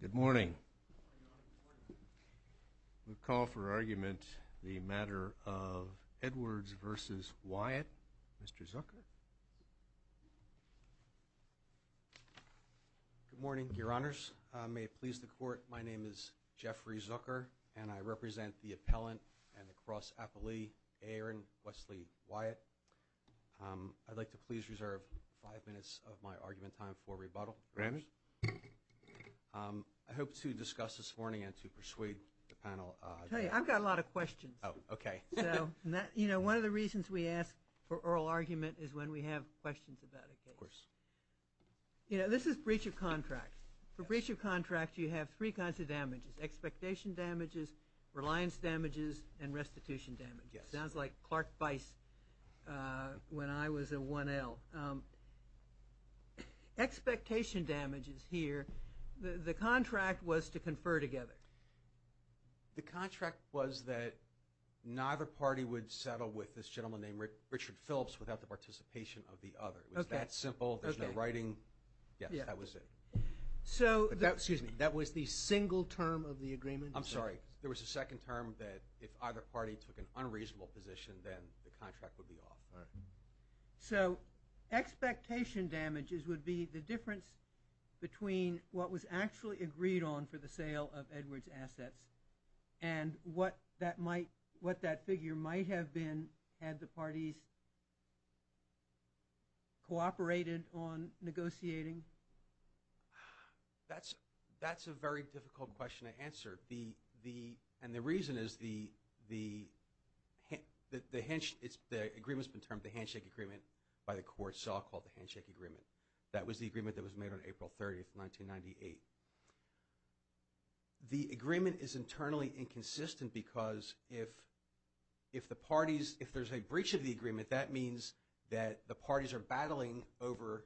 Good morning. We'll call for argument the matter of Edwards versus Wyatt. Mr. Zucker. Good morning, your honors. May it please the court, my name is Jeffrey Zucker and I represent the appellant and the cross-appellee Aaron Wesley Wyatt. I'd like to please reserve five minutes of my argument time for rebuttal. I hope to discuss this morning and to persuade the panel. I've got a lot of questions. Oh, okay. You know, one of the reasons we ask for oral argument is when we have questions about a case. Of course. You know, this is breach of contract. For breach of contract, you have three kinds of damages. Expectation damages, reliance damages, and restitution damages. Sounds like Clark Bice when I was a 1L. Expectation damages here, the contract was to confer together. The contract was that neither party would settle with this gentleman named Richard Phillips without the participation of the other. It was that simple. There's no writing. Yes, that was it. So, excuse me, that was the single term of the agreement? I'm sorry, there was a second term that if either party took an unreasonable position, then the contract would be off. So, expectation damages would be the difference between what was actually agreed on for the sale of Edwards assets and what that might, what that figure might have been had the parties cooperated on negotiating? That's a very difficult question to answer. And the reason is the agreement's been termed the handshake agreement by the court, so I'll call it the handshake agreement. That was the agreement that was made on April 30th, 1998. The agreement is internally inconsistent because if the parties, if there's a breach of the agreement, that means that the parties are battling over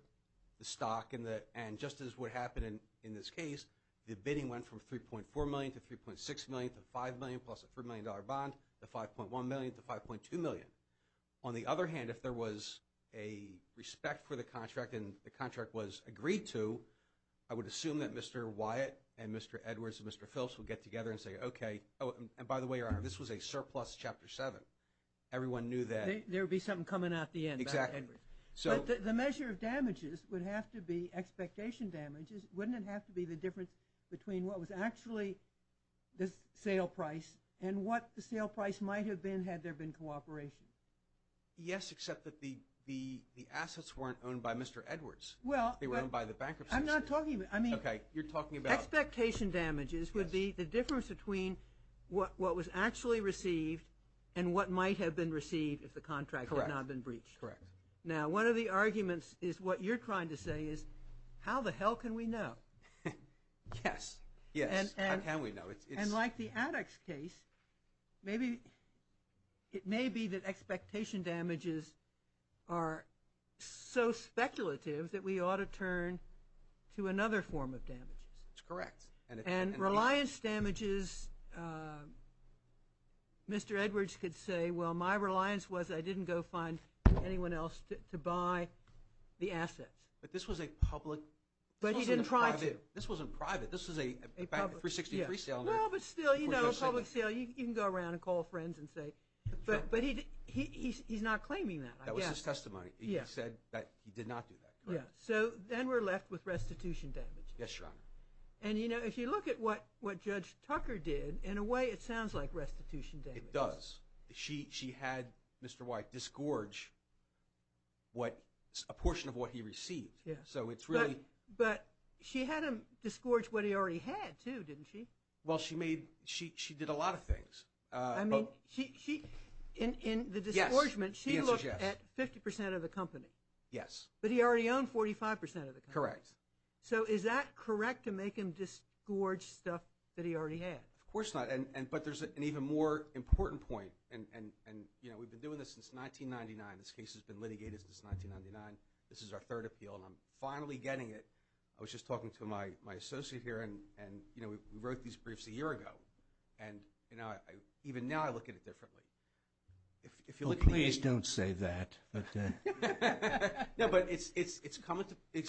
the stock and just as what happened in this case, the bidding went from 3.4 million to 3.6 million to 5 million plus a $3 million bond to 5.1 million to 5.2 million. On the other hand, if there was a respect for the contract and the contract was agreed to, I would assume that Mr. Wyatt and Mr. Edwards and Mr. Phelps would get together and say, okay, oh and by the way, Your Honor, this was a surplus Chapter 7. Everyone knew that. There would be something coming out the end. Exactly. So, the measure of damages would have to be expectation damages. Wouldn't it have to be the difference between what was actually the sale price and what the sale price might have been had there been cooperation? Yes, except that the assets weren't owned by Mr. Edwards. They were owned by the bankruptcy. I'm not talking, I mean, expectation damages would be the difference between what was actually received and what might have been received if the contract had not been breached. Correct. Now, one of the Yes. Yes. How can we know? And like the addicts case, maybe it may be that expectation damages are so speculative that we ought to turn to another form of damages. That's correct. And reliance damages, Mr. Edwards could say, well, my reliance was I didn't go find anyone else to buy the assets. But this was a private, this wasn't private, this was a 360 sale. Well, but still, you know, a public sale, you can go around and call friends and say, but he's not claiming that. That was his testimony. He said that he did not do that. Yeah. So, then we're left with restitution damage. Yes, Your Honor. And, you know, if you look at what what Judge Tucker did, in a way it sounds like restitution damage. It does. She had Mr. White disgorge what, a portion of what he received. Yes. So, it's really. But she had him disgorge what he already had, too, didn't she? Well, she made, she did a lot of things. I mean, she, in the disgorgement, she looked at 50% of the company. Yes. But he already owned 45% of the company. Correct. So, is that correct to make him disgorge stuff that he already had? Of course not. And, but there's an even more important point and, you know, we've been doing this since 1999. This case has been litigated since 1999. This is our third appeal and I'm finally getting it. I was just talking to my associate here and, you know, we wrote these briefs a year ago. And, you know, even now I look at it differently. If you look at the age. Well, please don't say that. No, but it's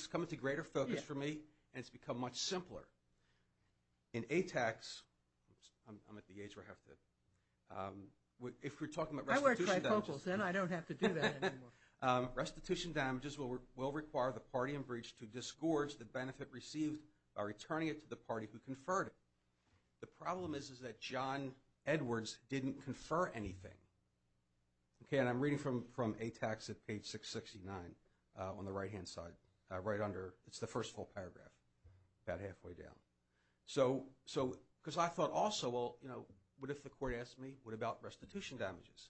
coming to greater focus for me and it's become much simpler. In A-TACS, I'm at the age where I have to, if we're talking about restitution damages. I wear trifocals and I don't have to do that anymore. Restitution damages will require the party in breach to disgorge the benefit received by returning it to the party who conferred it. The problem is that John Edwards didn't confer anything. Okay, and I'm reading from A-TACS at page 669 on the right hand side, right under, it's the first full paragraph, about halfway down. So, because I thought also, well, you know, what if the court asks me, what about restitution damages?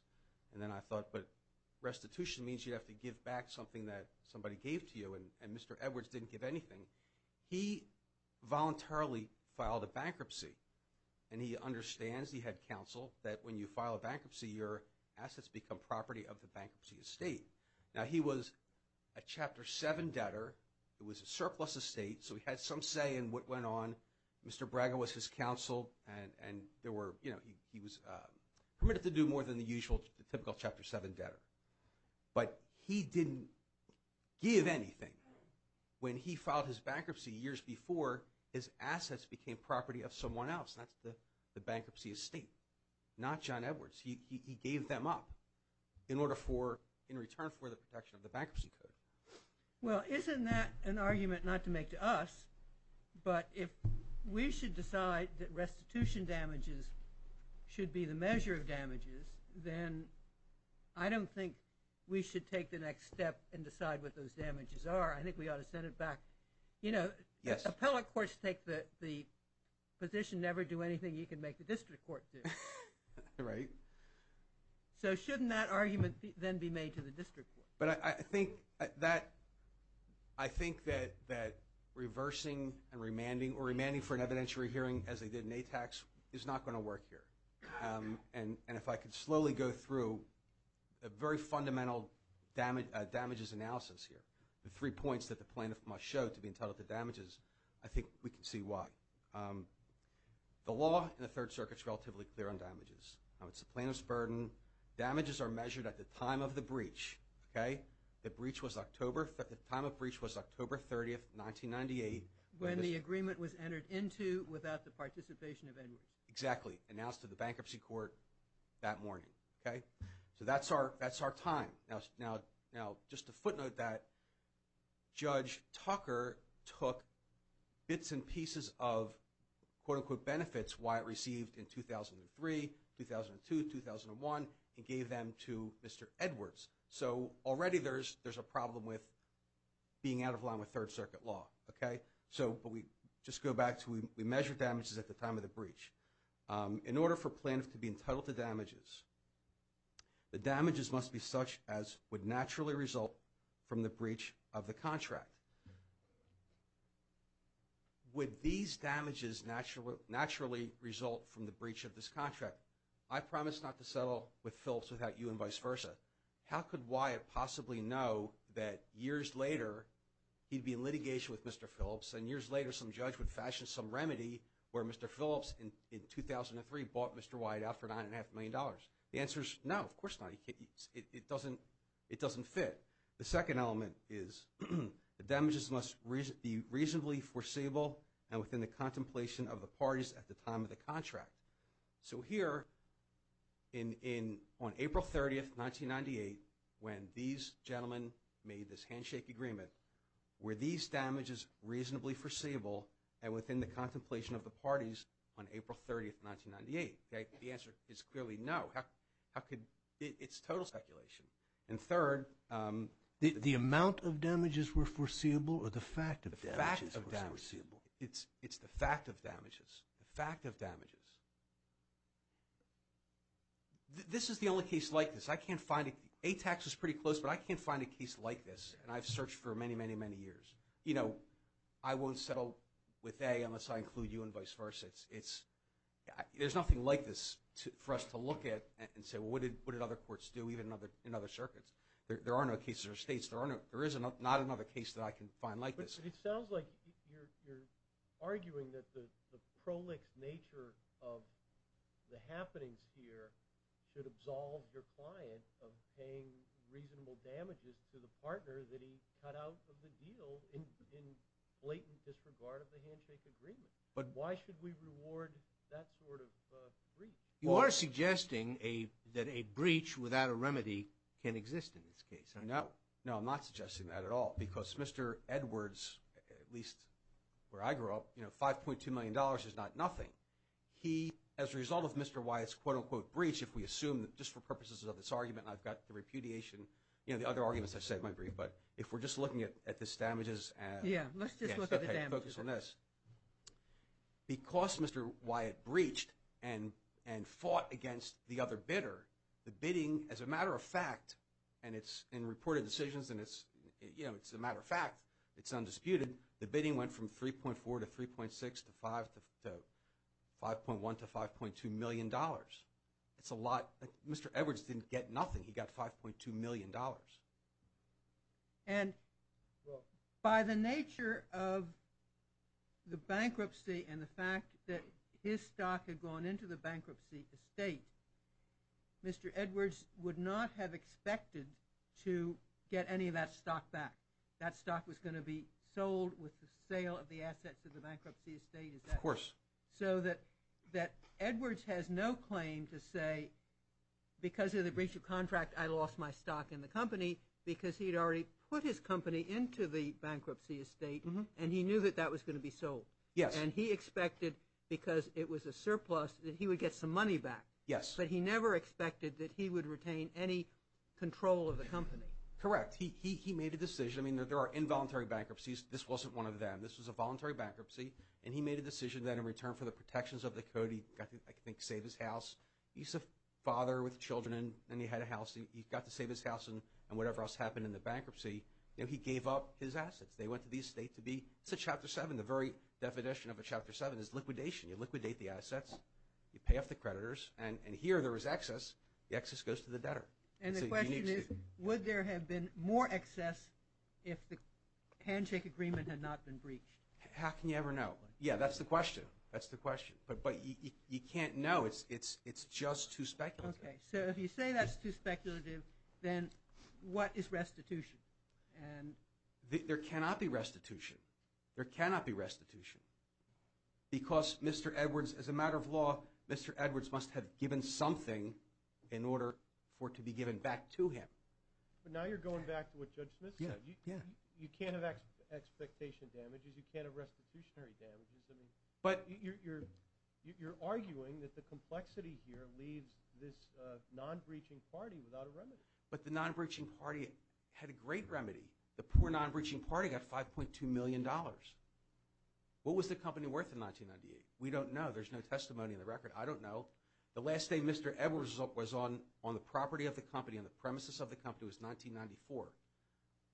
And then I thought, but restitution means you have to give back something that somebody gave to you and Mr. Edwards didn't give anything. He voluntarily filed a bankruptcy and he understands, he had counsel, that when you file a bankruptcy, your assets become property of the bankruptcy estate. Now, he was a Chapter 7 debtor. It was a surplus estate, so he had some say in what went on. Mr. Braga was his counsel and there were, you know, he was permitted to do more than the usual, the typical Chapter 7 debtor. But he didn't give anything. When he filed his bankruptcy years before, his assets became property of someone else. That's the bankruptcy estate, not John Edwards. He gave them up in order for, in return for the protection of the bankruptcy code. Well, isn't that an argument not to make to us, but if we should decide that restitution damages should be the measure of damages, then I don't think we should take the next step and decide what those damages are. I think we ought to send it back. You know, the appellate courts take the position, never do anything you can make the district court do. Right. So, shouldn't that argument then be made to the district court? But I think that reversing and remanding or remanding for an evidentiary hearing as they did in ATAX is not going to work here. And if I could slowly go through a very fundamental damages analysis here, the three points that the plaintiff must show to be entitled to damages, I think we can see why. The law in the Third Circuit is relatively clear on damages. It's the plaintiff's burden. Damages are measured at the time of the breach. Okay? The breach was October, the time of the breach was October 30th, 1998. When the agreement was entered into without the participation of Edwards. Exactly. Announced to the bankruptcy court that morning. Okay? So that's our time. Now, just a footnote that Judge Tucker took bits and pieces of quote-unquote benefits Wyatt received in 2003, 2002, 2001 and gave them to Mr. Edwards. So, already there's a problem with being out of line with Third Circuit law. Okay? So, but we just go back to we measure damages at the time of the breach. In order for plaintiff to be entitled to damages, the damages must be such as would naturally result from the breach of the contract. Would these damages naturally result from the breach of this contract? I promise not to settle with Phillips without you and vice versa. How could Wyatt possibly know that years later he'd be in litigation with Mr. Phillips and years later some judge would fashion some remedy where Mr. Phillips in 2003 bought Mr. Wyatt out for $9.5 million? The answer is no, of course not. It doesn't fit. The second element is the damages must be reasonably foreseeable and within the contemplation of the parties at the time of the contract. So, here on April 30th, 1998, when these gentlemen made this handshake agreement, were these damages reasonably foreseeable and within the contemplation of the parties on April 30th, 1998? Okay? The answer is clearly no. How could – it's total speculation. And third – The amount of damages were foreseeable or the fact of damages were foreseeable? It's the fact of damages. The fact of damages. This is the only case like this. I can't find – ATAX was pretty close, but I can't find a case like this, and I've searched for many, many, many years. You know, I won't settle with A unless I include you and vice versa. It's – there's nothing like this for us to look at and say, well, what did other courts do, even in other circuits? There are no cases or states. There is not another case that I can find like this. But it sounds like you're arguing that the prolix nature of the happenings here should absolve your client of paying reasonable damages to the partner that he cut out of the deal in blatant disregard of the handshake agreement. But why should we reward that sort of breach? You are suggesting that a breach without a remedy can exist in this case. No. No, I'm not suggesting that at all because Mr. Edwards, at least where I grew up, you know, $5.2 million is not nothing. He, as a result of Mr. Wyatt's quote, unquote, breach, if we assume that just for purposes of this argument, I've got the repudiation, you know, the other arguments I've said might be, but if we're just looking at this damages and – Yeah, let's just look at the damages. Okay, focus on this. Because Mr. Wyatt breached and fought against the other bidder, the bidding, as a matter of fact, and it's in reported decisions and it's, you know, it's a matter of fact, it's undisputed, the bidding went from $3.4 to $3.6 to $5.1 to $5.2 million. It's a lot. Mr. Edwards didn't get nothing. He got $5.2 million. And by the nature of the bankruptcy and the fact that his stock had gone into the bankruptcy estate, Mr. Edwards would not have expected to get any of that stock back. That stock was going to be sold with the sale of the assets of the bankruptcy estate. Of course. So that Edwards has no claim to say, because of the breach of contract, I lost my stock in the company, because he had already put his company into the bankruptcy estate and he knew that that was going to be sold. Yes. And he expected, because it was a surplus, that he would get some money back. Yes. But he never expected that he would retain any control of the company. Correct. He made a decision. I mean, there are involuntary bankruptcies. This wasn't one of them. This was a voluntary bankruptcy, and he made a decision that in return for the protections of the code, he got to, I think, save his house. He's a father with children, and he had a house. He got to save his house, and whatever else happened in the bankruptcy, he gave up his assets. They went to the estate to be – it's a Chapter 7. The very definition of a Chapter 7 is liquidation. You liquidate the assets. You pay off the creditors. And here there was excess. The excess goes to the debtor. And the question is, would there have been more excess if the handshake agreement had not been breached? How can you ever know? Yeah, that's the question. That's the question. But you can't know. It's just too speculative. Okay. So if you say that's too speculative, then what is restitution? There cannot be restitution. There cannot be restitution because Mr. Edwards, as a matter of law, Mr. Edwards must have given something in order for it to be given back to him. But now you're going back to what Judge Smith said. You can't have expectation damages. You can't have restitutionary damages. But you're arguing that the complexity here leaves this non-breaching party without a remedy. But the non-breaching party had a great remedy. The poor non-breaching party got $5.2 million. What was the company worth in 1998? We don't know. There's no testimony in the record. I don't know. The last day Mr. Edwards was on the property of the company, on the premises of the company, was 1994.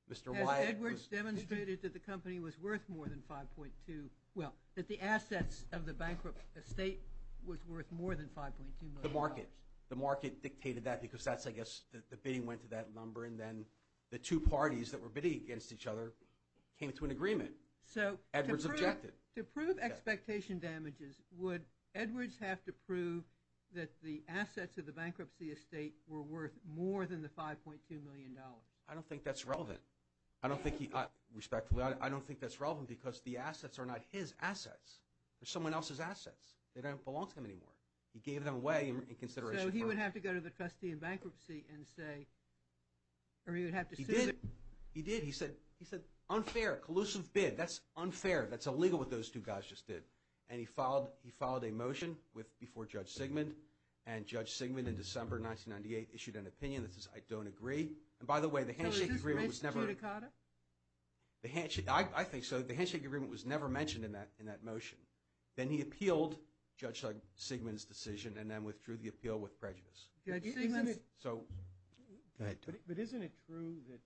Has Edwards demonstrated that the company was worth more than $5.2 million? Well, that the assets of the bankrupt estate was worth more than $5.2 million. The market. The market dictated that because that's, I guess, the bidding went to that number, and then the two parties that were bidding against each other came to an agreement. So to prove expectation damages, would Edwards have to prove that the assets of the bankruptcy estate were worth more than the $5.2 million? I don't think that's relevant. I don't think he—respectfully, I don't think that's relevant because the assets are not his assets. They're someone else's assets. They don't belong to him anymore. He gave them away in consideration for— So he would have to go to the trustee in bankruptcy and say—or he would have to— He did. He did. He said, unfair, collusive bid. That's unfair. That's illegal what those two guys just did. And he filed a motion with—before Judge Sigmund, and Judge Sigmund in December 1998 issued an opinion that says, I don't agree. And by the way, the handshake agreement was never— So it's just race to cuticata? I think so. The handshake agreement was never mentioned in that motion. Then he appealed Judge Sigmund's decision and then withdrew the appeal with prejudice. Judge Sigmund— So— Go ahead, Tony. But isn't it true that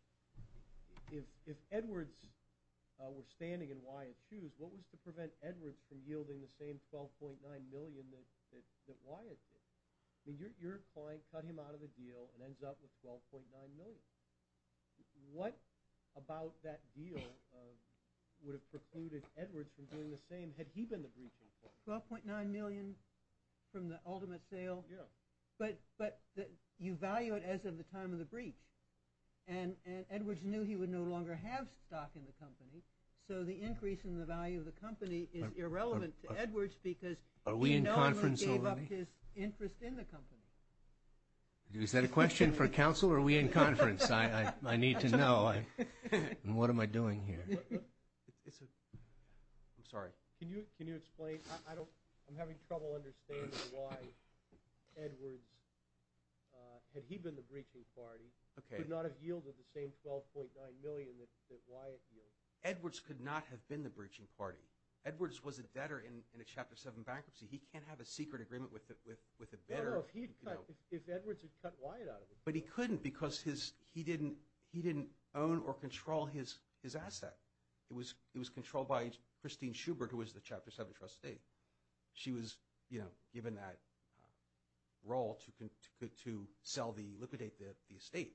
if Edwards were standing in Wyatt's shoes, what was to prevent Edwards from yielding the same $12.9 million that Wyatt did? I mean, your client cut him out of the deal and ends up with $12.9 million. What about that deal would have precluded Edwards from doing the same had he been the breaching point? $12.9 million from the ultimate sale? Yeah. But you value it as of the time of the breach. And Edwards knew he would no longer have stock in the company, so the increase in the value of the company is irrelevant to Edwards because he no longer gave up his interest in the company. Is that a question for counsel or are we in conference? I need to know. What am I doing here? I'm sorry. Can you explain? I'm having trouble understanding why Edwards, had he been the breaching party, could not have yielded the same $12.9 million that Wyatt yielded. Edwards could not have been the breaching party. Edwards was a debtor in a Chapter 7 bankruptcy. He can't have a secret agreement with a bidder. No, no, if Edwards had cut Wyatt out of the deal. But he couldn't because he didn't own or control his asset. It was controlled by Christine Schubert, who was the Chapter 7 trustee. She was given that role to liquidate the estate.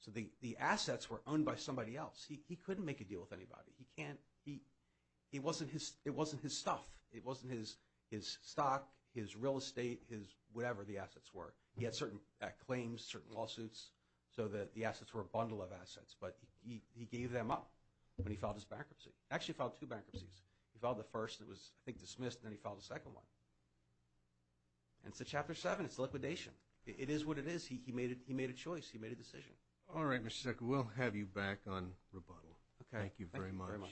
So the assets were owned by somebody else. He couldn't make a deal with anybody. It wasn't his stuff. It wasn't his stock, his real estate, whatever the assets were. He had certain claims, certain lawsuits, so the assets were a bundle of assets. But he gave them up when he filed his bankruptcy. Actually, he filed two bankruptcies. He filed the first that was, I think, dismissed, and then he filed the second one. And it's a Chapter 7. It's liquidation. It is what it is. He made a choice. He made a decision. All right, Mr. Zuckerberg. We'll have you back on rebuttal. Okay. Thank you very much. Thank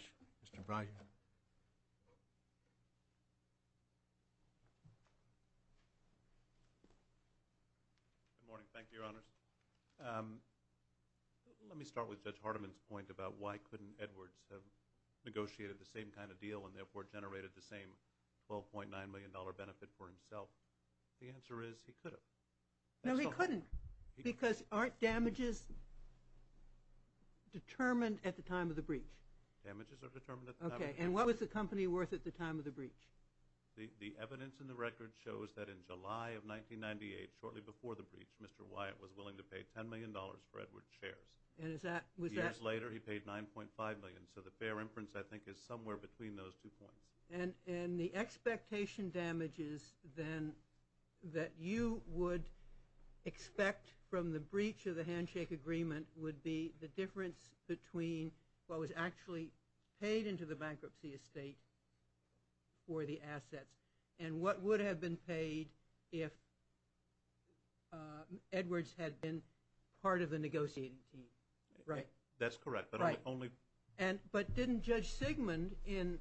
you very much. Mr. Breyer. Thank you, Your Honors. Let me start with Judge Hardiman's point about why couldn't Edwards have negotiated the same kind of deal and, therefore, generated the same $12.9 million benefit for himself? The answer is he could have. No, he couldn't because aren't damages determined at the time of the breach? Damages are determined at the time of the breach. Okay, and what was the company worth at the time of the breach? The evidence in the record shows that in July of 1998, shortly before the breach, Mr. Wyatt was willing to pay $10 million for Edwards' shares. And was that? Years later, he paid $9.5 million. So the fair inference, I think, is somewhere between those two points. And the expectation damages, then, that you would expect from the breach of the handshake agreement would be the difference between what was actually paid into the bankruptcy estate for the assets and what would have been paid if Edwards had been part of the negotiating team, right? That's correct. Right. But didn't Judge Sigmund, in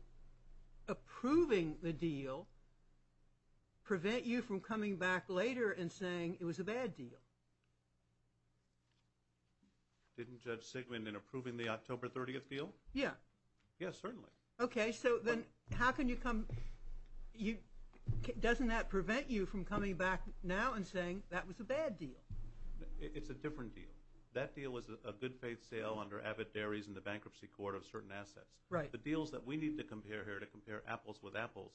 approving the deal, prevent you from coming back later and saying it was a bad deal? Didn't Judge Sigmund, in approving the October 30th deal? Yeah. Yeah, certainly. Okay, so then how can you come – doesn't that prevent you from coming back now and saying that was a bad deal? It's a different deal. That deal was a good-faith sale under avid dairies in the bankruptcy court of certain assets. Right. The deals that we need to compare here to compare apples with apples,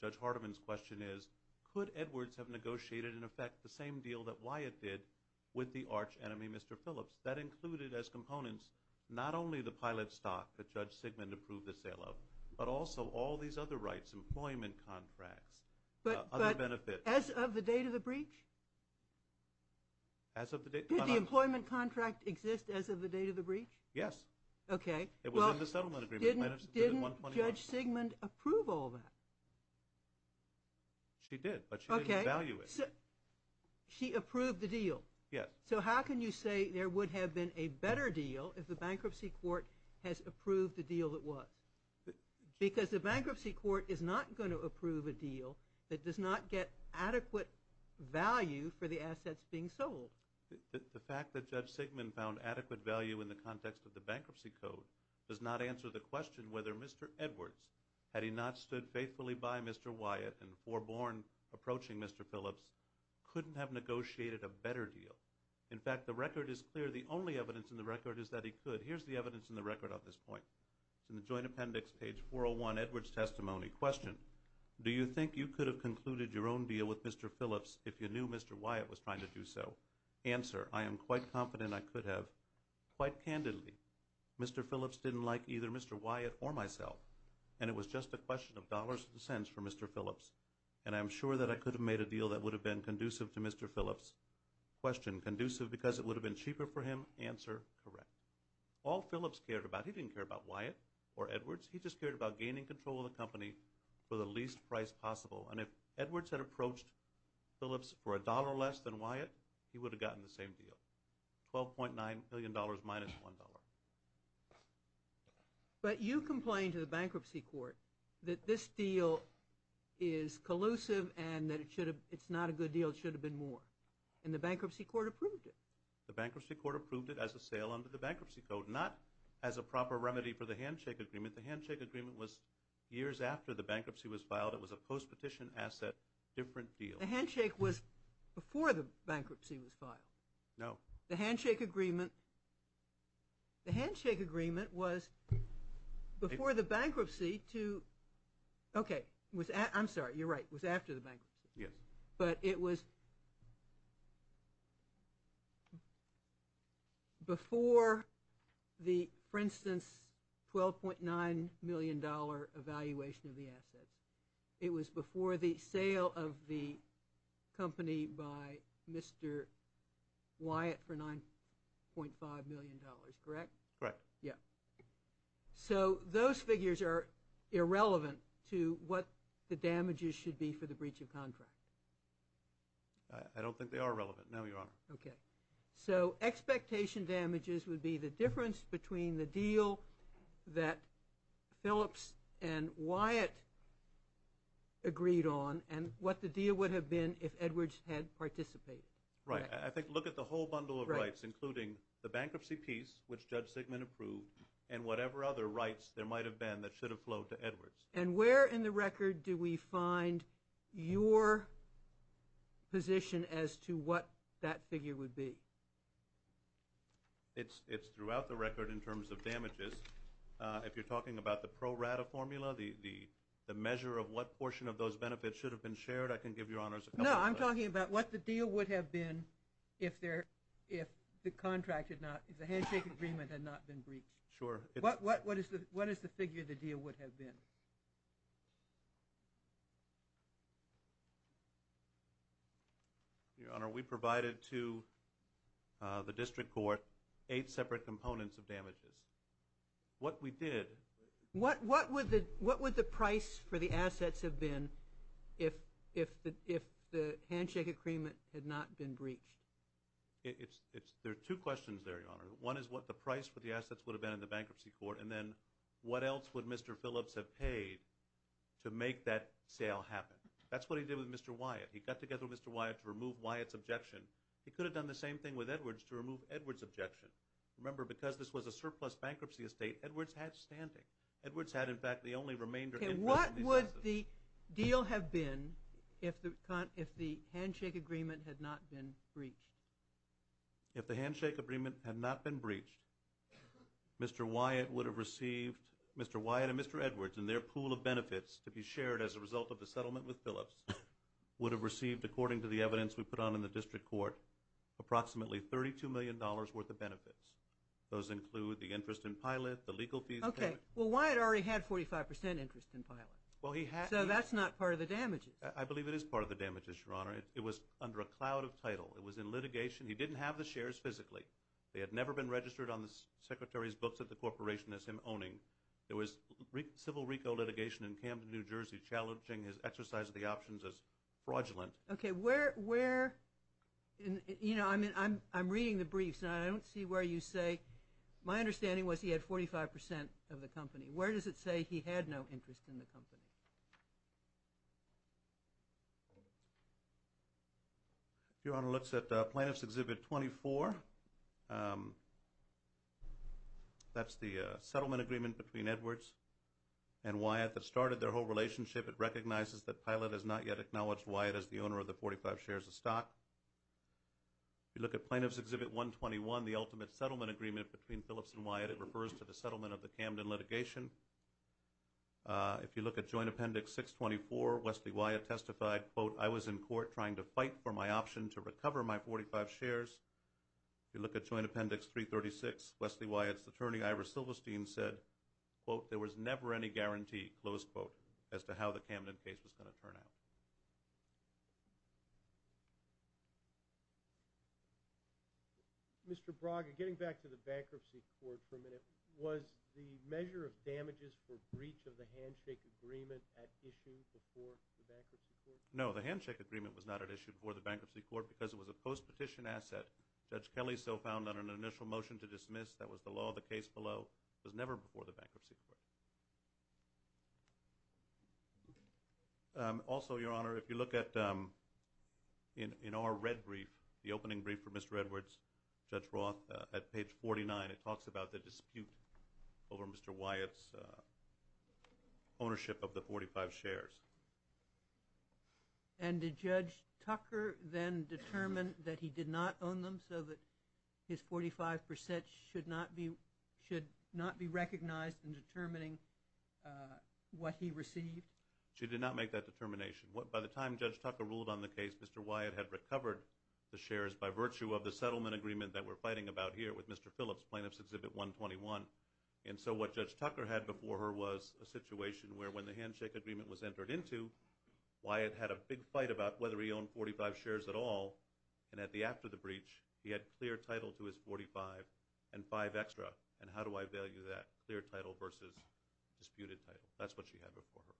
Judge Hardiman's question is, could Edwards have negotiated, in effect, the same deal that Wyatt did with the arch enemy, Mr. Phillips? That included as components not only the pilot stock that Judge Sigmund approved the sale of, but also all these other rights, employment contracts, other benefits. But as of the date of the breach? Did the employment contract exist as of the date of the breach? Yes. Okay. It was in the settlement agreement. Didn't Judge Sigmund approve all that? She did, but she didn't value it. Okay. She approved the deal. Yes. So how can you say there would have been a better deal if the bankruptcy court has approved the deal it was? Because the bankruptcy court is not going to approve a deal that does not get adequate value for the assets being sold. The fact that Judge Sigmund found adequate value in the context of the bankruptcy code does not answer the question whether Mr. Edwards, had he not stood faithfully by Mr. Wyatt and foreborn approaching Mr. Phillips, couldn't have negotiated a better deal. In fact, the record is clear. The only evidence in the record is that he could. Here's the evidence in the record on this point. It's in the joint appendix, page 401, Edwards' testimony. Question. Do you think you could have concluded your own deal with Mr. Phillips if you knew Mr. Wyatt was trying to do so? Answer. I am quite confident I could have, quite candidly. Mr. Phillips didn't like either Mr. Wyatt or myself, and it was just a question of dollars and cents for Mr. Phillips, and I'm sure that I could have made a deal that would have been conducive to Mr. Phillips. Question. Conducive because it would have been cheaper for him? Answer. Correct. All Phillips cared about, he didn't care about Wyatt or Edwards. He just cared about gaining control of the company for the least price possible, and if Edwards had approached Phillips for a dollar less than Wyatt, he would have gotten the same deal, $12.9 million minus $1. But you complained to the bankruptcy court that this deal is collusive and that it's not a good deal, it should have been more, and the bankruptcy court approved it. The bankruptcy court approved it as a sale under the bankruptcy code, not as a proper remedy for the handshake agreement. The handshake agreement was years after the bankruptcy was filed. It was a post-petition asset, different deal. The handshake was before the bankruptcy was filed? No. The handshake agreement was before the bankruptcy to – okay, I'm sorry, you're right, it was after the bankruptcy. Yes. But it was before the, for instance, $12.9 million evaluation of the assets. It was before the sale of the company by Mr. Wyatt for $9.5 million, correct? Correct. Yeah. So those figures are irrelevant to what the damages should be for the breach of contract. I don't think they are relevant, no, Your Honor. Okay. So expectation damages would be the difference between the deal that Phillips and Wyatt agreed on and what the deal would have been if Edwards had participated. Right. I think look at the whole bundle of rights, including the bankruptcy piece, which Judge Sigmund approved, and whatever other rights there might have been that should have flowed to Edwards. And where in the record do we find your position as to what that figure would be? It's throughout the record in terms of damages. If you're talking about the pro rata formula, the measure of what portion of those benefits should have been shared, I can give Your Honors a couple of those. No, I'm talking about what the deal would have been if the contract had not, if the handshake agreement had not been breached. Sure. What is the figure the deal would have been? Your Honor, we provided to the district court eight separate components of damages. What we did. What would the price for the assets have been if the handshake agreement had not been breached? There are two questions there, Your Honor. One is what the price for the assets would have been in the bankruptcy court, and then what else would Mr. Phillips have paid to make that sale happen? That's what he did with Mr. Wyatt. He got together with Mr. Wyatt to remove Wyatt's objection. He could have done the same thing with Edwards to remove Edwards' objection. Remember, because this was a surplus bankruptcy estate, Edwards had standing. Edwards had, in fact, the only remainder of the business. Okay, what would the deal have been if the handshake agreement had not been breached? If the handshake agreement had not been breached, Mr. Wyatt would have received, Mr. Wyatt and Mr. Edwards and their pool of benefits to be shared as a result of the settlement with Phillips would have received, according to the evidence we put on in the district court, approximately $32 million worth of benefits. Those include the interest in pilot, the legal fees payment. Okay. Well, Wyatt already had 45 percent interest in pilot. So that's not part of the damages. I believe it is part of the damages, Your Honor. It was under a cloud of title. It was in litigation. He didn't have the shares physically. They had never been registered on the Secretary's books at the corporation as him owning. It was civil RICO litigation in Camden, New Jersey, challenging his exercise of the options as fraudulent. Okay, where – you know, I'm reading the briefs, and I don't see where you say – my understanding was he had 45 percent of the company. Where does it say he had no interest in the company? If Your Honor looks at Plaintiff's Exhibit 24, that's the settlement agreement between Edwards and Wyatt that started their whole relationship. It recognizes that Pilot has not yet acknowledged Wyatt as the owner of the 45 shares of stock. If you look at Plaintiff's Exhibit 121, the ultimate settlement agreement between Phillips and Wyatt, it refers to the settlement of the Camden litigation. If you look at Joint Appendix 624, Wesley Wyatt testified, quote, I was in court trying to fight for my option to recover my 45 shares. If you look at Joint Appendix 336, Wesley Wyatt's attorney, Ira Silverstein, said, quote, there was never any guarantee, close quote, as to how the Camden case was going to turn out. Mr. Braga, getting back to the Bankruptcy Court for a minute, was the measure of damages for breach of the handshake agreement at issue before the Bankruptcy Court? No, the handshake agreement was not at issue before the Bankruptcy Court because it was a post-petition asset. Judge Kelly so found on an initial motion to dismiss that was the law of the case below. It was never before the Bankruptcy Court. Also, Your Honor, if you look at our red brief, the opening brief for Mr. Edwards, Judge Roth, at page 49, it talks about the dispute over Mr. Wyatt's ownership of the 45 shares. And did Judge Tucker then determine that he did not own them so that his 45 percent should not be recognized in determining what he received? She did not make that determination. By the time Judge Tucker ruled on the case, Mr. Wyatt had recovered the shares by virtue of the settlement agreement that we're fighting about here with Mr. Phillips, Plaintiffs' Exhibit 121. She made a determination where when the handshake agreement was entered into, Wyatt had a big fight about whether he owned 45 shares at all. And at the after the breach, he had clear title to his 45 and five extra. And how do I value that clear title versus disputed title? That's what she had before her.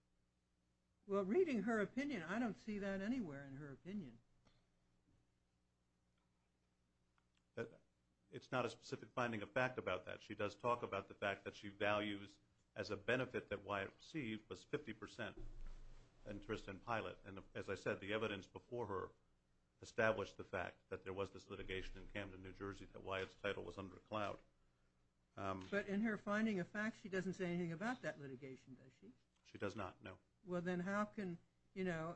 Well, reading her opinion, I don't see that anywhere in her opinion. It's not a specific finding of fact about that. She does talk about the fact that she values as a benefit that Wyatt received was 50 percent interest in Pilot. And as I said, the evidence before her established the fact that there was this litigation in Camden, New Jersey, that Wyatt's title was under a cloud. But in her finding of fact, she doesn't say anything about that litigation, does she? She does not, no. Well, then how can, you know,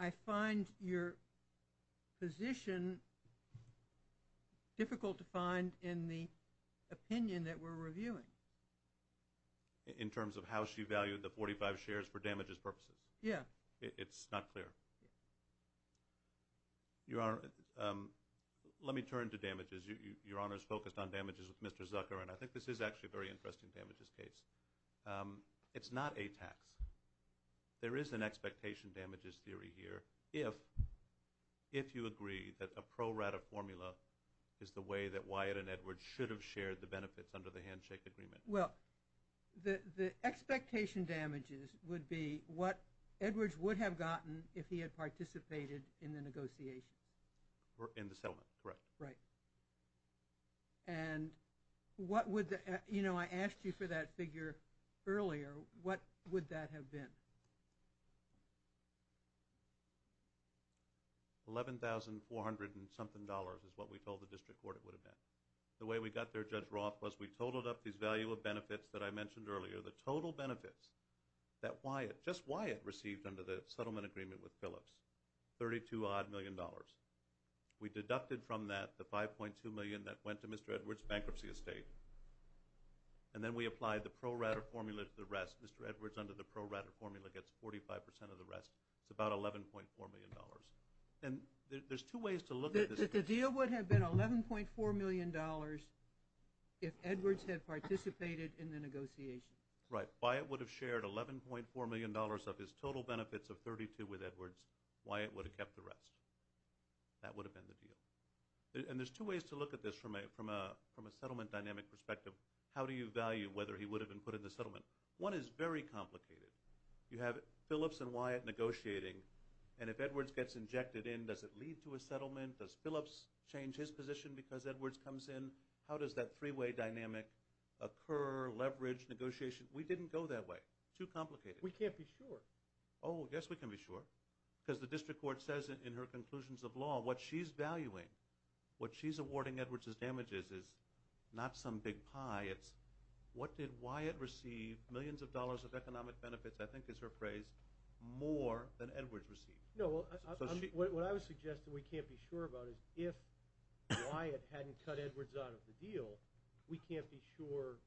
I find your position difficult to find in the opinion that we're reviewing. In terms of how she valued the 45 shares for damages purposes? Yeah. It's not clear. Your Honor, let me turn to damages. Your Honor is focused on damages with Mr. Zucker, and I think this is actually a very interesting damages case. It's not a tax. There is an expectation damages theory here if you agree that a pro rata formula is the way that Wyatt and Edwards should have shared the benefits under the handshake agreement. Well, the expectation damages would be what Edwards would have gotten if he had participated in the negotiation. In the settlement, correct. Right. And what would the, you know, I asked you for that figure earlier. What would that have been? $11,400 and something dollars is what we told the district court it would have been. The way we got there, Judge Roth, was we totaled up these value of benefits that I mentioned earlier, the total benefits that Wyatt, just Wyatt, received under the settlement agreement with Phillips, $32 odd million. We deducted from that the $5.2 million that went to Mr. Edwards' bankruptcy estate, and then we applied the pro rata formula to the rest. Mr. Edwards, under the pro rata formula, gets 45% of the rest. It's about $11.4 million. And there's two ways to look at this. The deal would have been $11.4 million if Edwards had participated in the negotiation. Right. Wyatt would have shared $11.4 million of his total benefits of $32 with Edwards. Wyatt would have kept the rest. That would have been the deal. And there's two ways to look at this from a settlement dynamic perspective. How do you value whether he would have been put in the settlement? One is very complicated. You have Phillips and Wyatt negotiating, and if Edwards gets injected in, does it lead to a settlement? Does Phillips change his position because Edwards comes in? How does that three-way dynamic occur, leverage, negotiation? We didn't go that way. Too complicated. We can't be sure. Oh, yes, we can be sure. Because the district court says in her conclusions of law what she's valuing, what she's awarding Edwards' damages is not some big pie. It's what did Wyatt receive, millions of dollars of economic benefits, I think is her phrase, more than Edwards received. No, what I would suggest that we can't be sure about is if Wyatt hadn't cut Edwards out of the deal, we can't be sure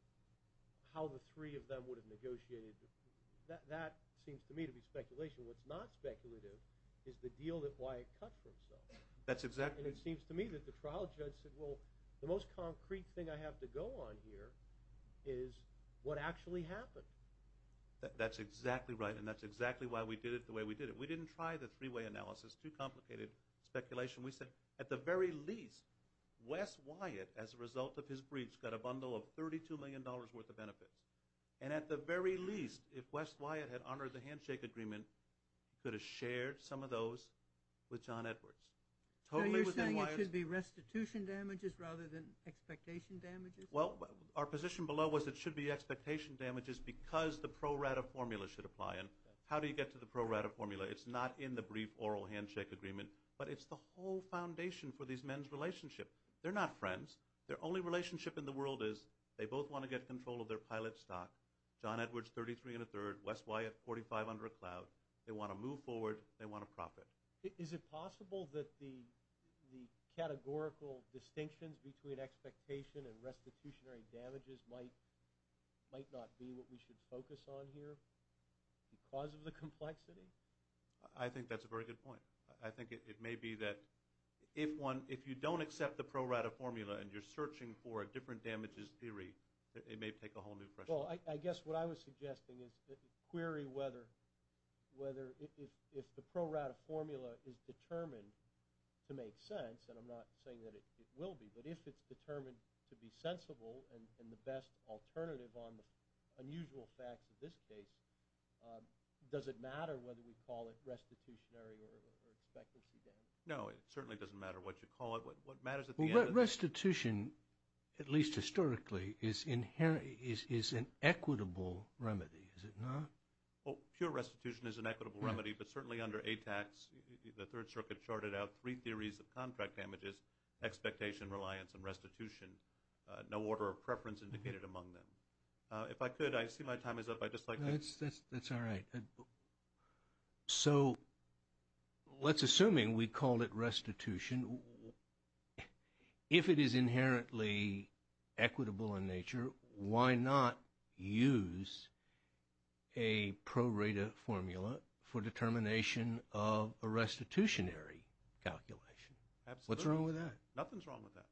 how the three of them would have negotiated. That seems to me to be speculation. What's not speculative is the deal that Wyatt cut for himself. And it seems to me that the trial judge said, well, the most concrete thing I have to go on here is what actually happened. That's exactly right, and that's exactly why we did it the way we did it. We didn't try the three-way analysis. Too complicated. Speculation. We said, at the very least, Wes Wyatt, as a result of his breach, got a bundle of $32 million worth of benefits. And at the very least, if Wes Wyatt had honored the handshake agreement, he could have shared some of those with John Edwards. So you're saying it should be restitution damages rather than expectation damages? Well, our position below was it should be expectation damages because the pro rata formula should apply. And how do you get to the pro rata formula? It's not in the brief oral handshake agreement, but it's the whole foundation for these men's relationship. They're not friends. Their only relationship in the world is they both want to get control of their pilot stock. John Edwards, 33 and a third. Wes Wyatt, 45 under a cloud. They want to move forward. They want to profit. Is it possible that the categorical distinctions between expectation and restitutionary damages might not be what we should focus on here because of the complexity? I think that's a very good point. I think it may be that if you don't accept the pro rata formula and you're searching for a different damages theory, it may take a whole new question. Well, I guess what I was suggesting is query whether if the pro rata formula is determined to make sense, and I'm not saying that it will be, but if it's determined to be sensible and the best alternative on the unusual facts of this case, does it matter whether we call it restitutionary or expectancy damages? No, it certainly doesn't matter what you call it. What matters at the end of the day… Well, restitution, at least historically, is an equitable remedy, is it not? Well, pure restitution is an equitable remedy, but certainly under ATAX, the Third Circuit charted out three theories of contract damages, expectation, reliance, and restitution. No order of preference indicated among them. If I could, I see my time is up. I'd just like to… That's all right. So let's assume we call it restitution. If it is inherently equitable in nature, why not use a pro rata formula for determination of a restitutionary calculation? Absolutely. What's wrong with that? Nothing's wrong with that.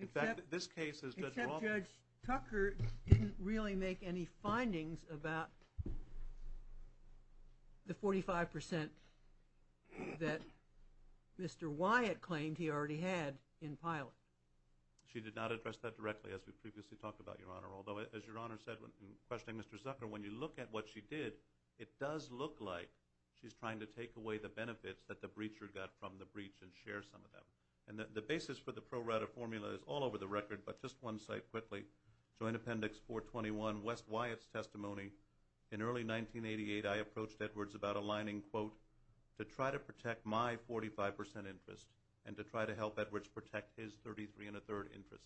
Except Judge Tucker didn't really make any findings about the 45% that Mr. Wyatt claimed he already had in pilot. She did not address that directly, as we previously talked about, Your Honor. Although, as Your Honor said in questioning Mr. Zucker, when you look at what she did, it does look like she's trying to take away the benefits that the breacher got from the breach and share some of them. The basis for the pro rata formula is all over the record, but just one site quickly. Joint Appendix 421, West Wyatt's testimony. In early 1988, I approached Edwards about aligning, quote, to try to protect my 45% interest and to try to help Edwards protect his 33 and a third interest.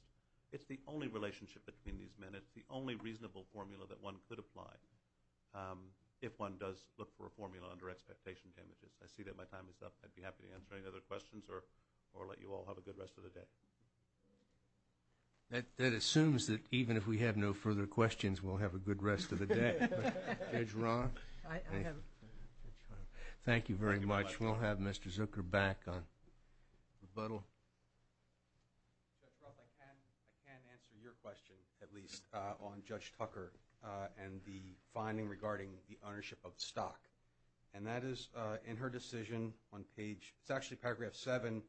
It's the only relationship between these men. It's the only reasonable formula that one could apply if one does look for a formula under expectation damages. I see that my time is up. I'd be happy to answer any other questions or let you all have a good rest of the day. That assumes that even if we have no further questions, we'll have a good rest of the day. Judge Roth? Thank you very much. We'll have Mr. Zucker back on rebuttal. Judge Roth, I can answer your question, at least, on Judge Tucker and the finding regarding the ownership of the stock. And that is in her decision on page – it's actually paragraph 7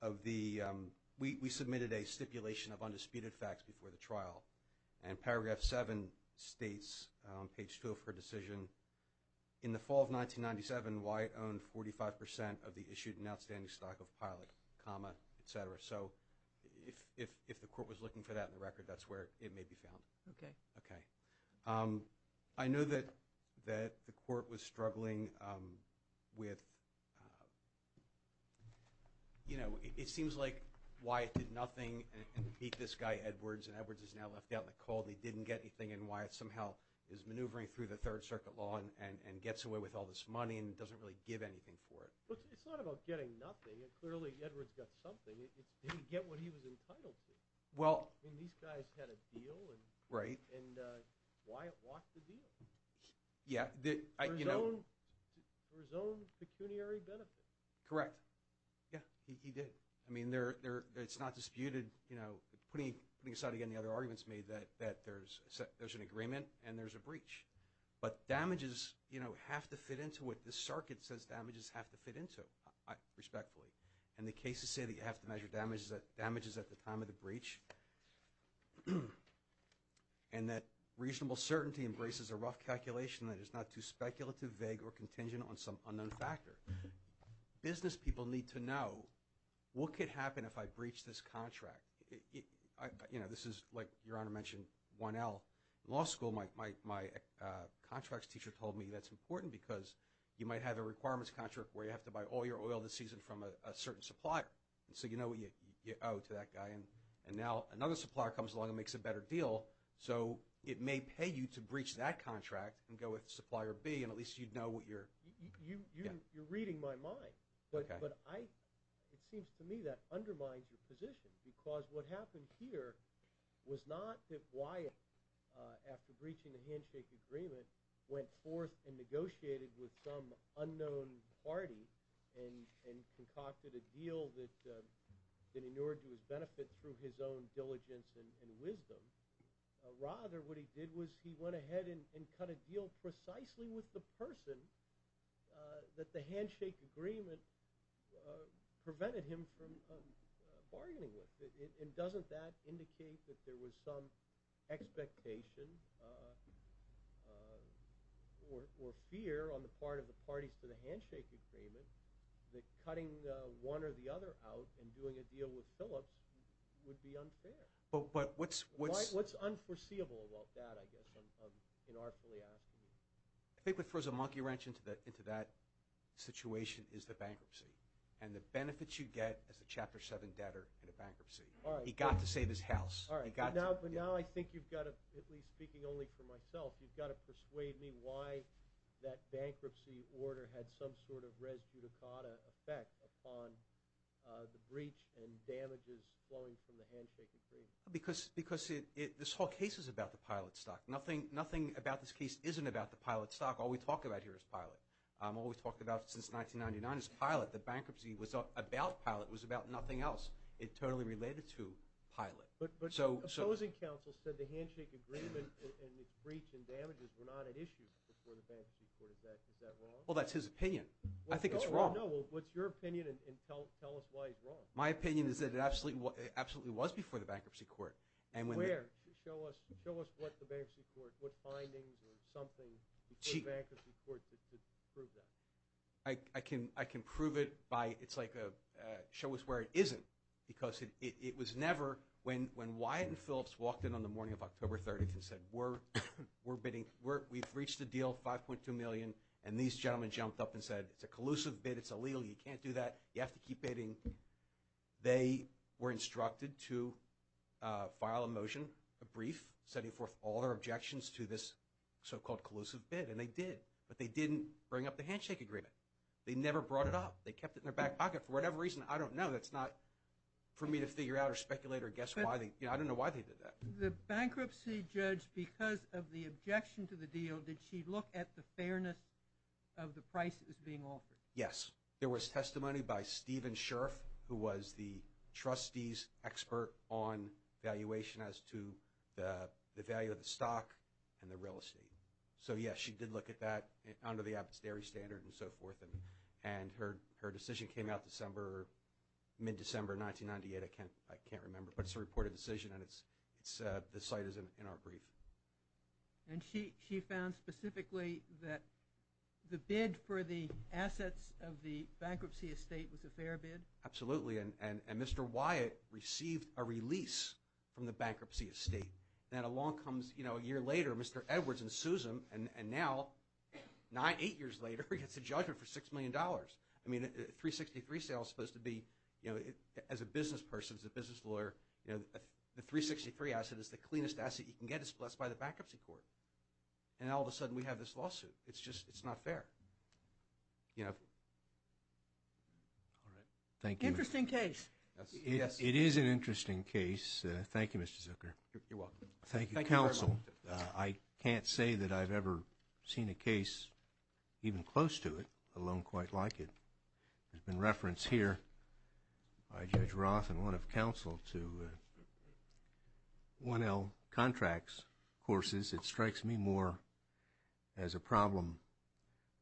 of the – we submitted a stipulation of undisputed facts before the trial. And paragraph 7 states, page 2 of her decision, in the fall of 1997, Wyatt owned 45% of the issued and outstanding stock of Pilot, comma, et cetera. So if the court was looking for that in the record, that's where it may be found. Okay. Okay. I know that the court was struggling with – you know, it seems like Wyatt did nothing and beat this guy, Edwards, and Edwards is now left out in the cold and he didn't get anything and Wyatt somehow is maneuvering through the Third Circuit law and gets away with all this money and doesn't really give anything for it. But it's not about getting nothing. Clearly, Edwards got something. He didn't get what he was entitled to. I mean, these guys had a deal. Right. And Wyatt walked the deal. Yeah. For his own pecuniary benefit. Correct. Yeah, he did. I mean, it's not disputed. Putting aside, again, the other arguments made, that there's an agreement and there's a breach. But damages have to fit into what the circuit says damages have to fit into, respectfully. And the cases say that you have to measure damages at the time of the breach and that reasonable certainty embraces a rough calculation that is not too speculative, vague, or contingent on some unknown factor. Business people need to know what could happen if I breach this contract. You know, this is, like Your Honor mentioned, 1L. In law school, my contracts teacher told me that's important because you might have a requirements contract where you have to buy all your oil this season from a certain supplier. So you know what you owe to that guy. And now another supplier comes along and makes a better deal, so it may pay you to breach that contract and go with supplier B, and at least you'd know what you're, yeah. You're reading my mind. Okay. But it seems to me that undermines your position because what happened here was not that Wyatt, after breaching the handshake agreement, went forth and negotiated with some unknown party and concocted a deal that inured to his benefit through his own diligence and wisdom. Rather, what he did was he went ahead and cut a deal precisely with the person that the handshake agreement prevented him from bargaining with. And doesn't that indicate that there was some expectation or fear on the part of the parties to the handshake agreement that cutting one or the other out and doing a deal with Phillips would be unfair? What's unforeseeable about that, I guess, inartfully asked of you? I think what throws a monkey wrench into that situation is the bankruptcy and the benefits you get as a Chapter 7 debtor in a bankruptcy. He got to save his house. All right. But now I think you've got to, at least speaking only for myself, you've got to persuade me why that bankruptcy order had some sort of res judicata effect upon the breach and damages flowing from the handshake agreement. Because this whole case is about the pilot stock. Nothing about this case isn't about the pilot stock. All we talk about here is pilot. All we've talked about since 1999 is pilot. The bankruptcy was about pilot. It was about nothing else. It totally related to pilot. But opposing counsel said the handshake agreement and its breach and damages were not at issue before the bankruptcy court. Is that wrong? Well, that's his opinion. I think it's wrong. No, no, no. Well, what's your opinion and tell us why it's wrong. My opinion is that it absolutely was before the bankruptcy court. Where? Show us what the bankruptcy court, what findings or something before the bankruptcy court to prove that. I can prove it by it's like a show us where it isn't. Because it was never when Wyatt and Phillips walked in on the morning of October 30th and said we've reached a deal, 5.2 million, and these gentlemen jumped up and said it's a collusive bid. It's illegal. You can't do that. You have to keep bidding. They were instructed to file a motion, a brief, setting forth all their objections to this so-called collusive bid, and they did. But they didn't bring up the handshake agreement. They never brought it up. They kept it in their back pocket for whatever reason. I don't know. That's not for me to figure out or speculate or guess why. I don't know why they did that. The bankruptcy judge, because of the objection to the deal, did she look at the fairness of the price that was being offered? Yes. There was testimony by Stephen Scherff, who was the trustee's expert on valuation as to the value of the stock and the real estate. So, yes, she did look at that under the Abbott's Dairy Standard and so forth, and her decision came out December, mid-December 1998. I can't remember, but it's a reported decision, and the site is in our brief. And she found specifically that the bid for the assets of the bankruptcy estate was a fair bid? Absolutely, and Mr. Wyatt received a release from the bankruptcy estate. Then along comes, you know, a year later, Mr. Edwards and Susan, and now, nine, eight years later, he gets a judgment for $6 million. I mean, a 363 sale is supposed to be, you know, as a business person, as a business lawyer, you know, the 363 asset is the cleanest asset you can get. That's by the bankruptcy court. And all of a sudden, we have this lawsuit. It's just not fair, you know. All right. Thank you. Interesting case. It is an interesting case. Thank you, Mr. Zucker. You're welcome. Thank you, counsel. I can't say that I've ever seen a case even close to it, alone quite like it. There's been reference here by Judge Roth and one of counsel to 1L contracts courses. It strikes me more as a problem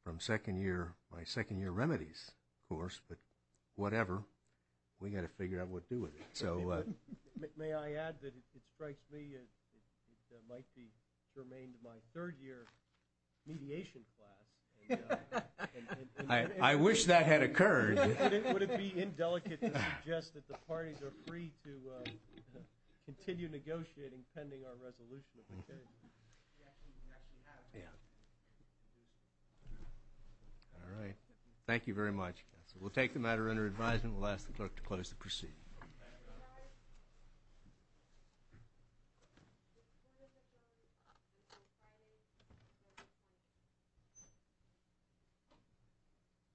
from second year, my second year remedies course, but whatever, we've got to figure out what to do with it. May I add that it strikes me it might be germane to my third year mediation class. I wish that had occurred. Would it be indelicate to suggest that the parties are free to continue negotiating pending our resolution of the case? We actually have. Yeah. All right. Thank you very much. We'll take the matter under advisement. We'll ask the clerk to close the proceeding. Thank you.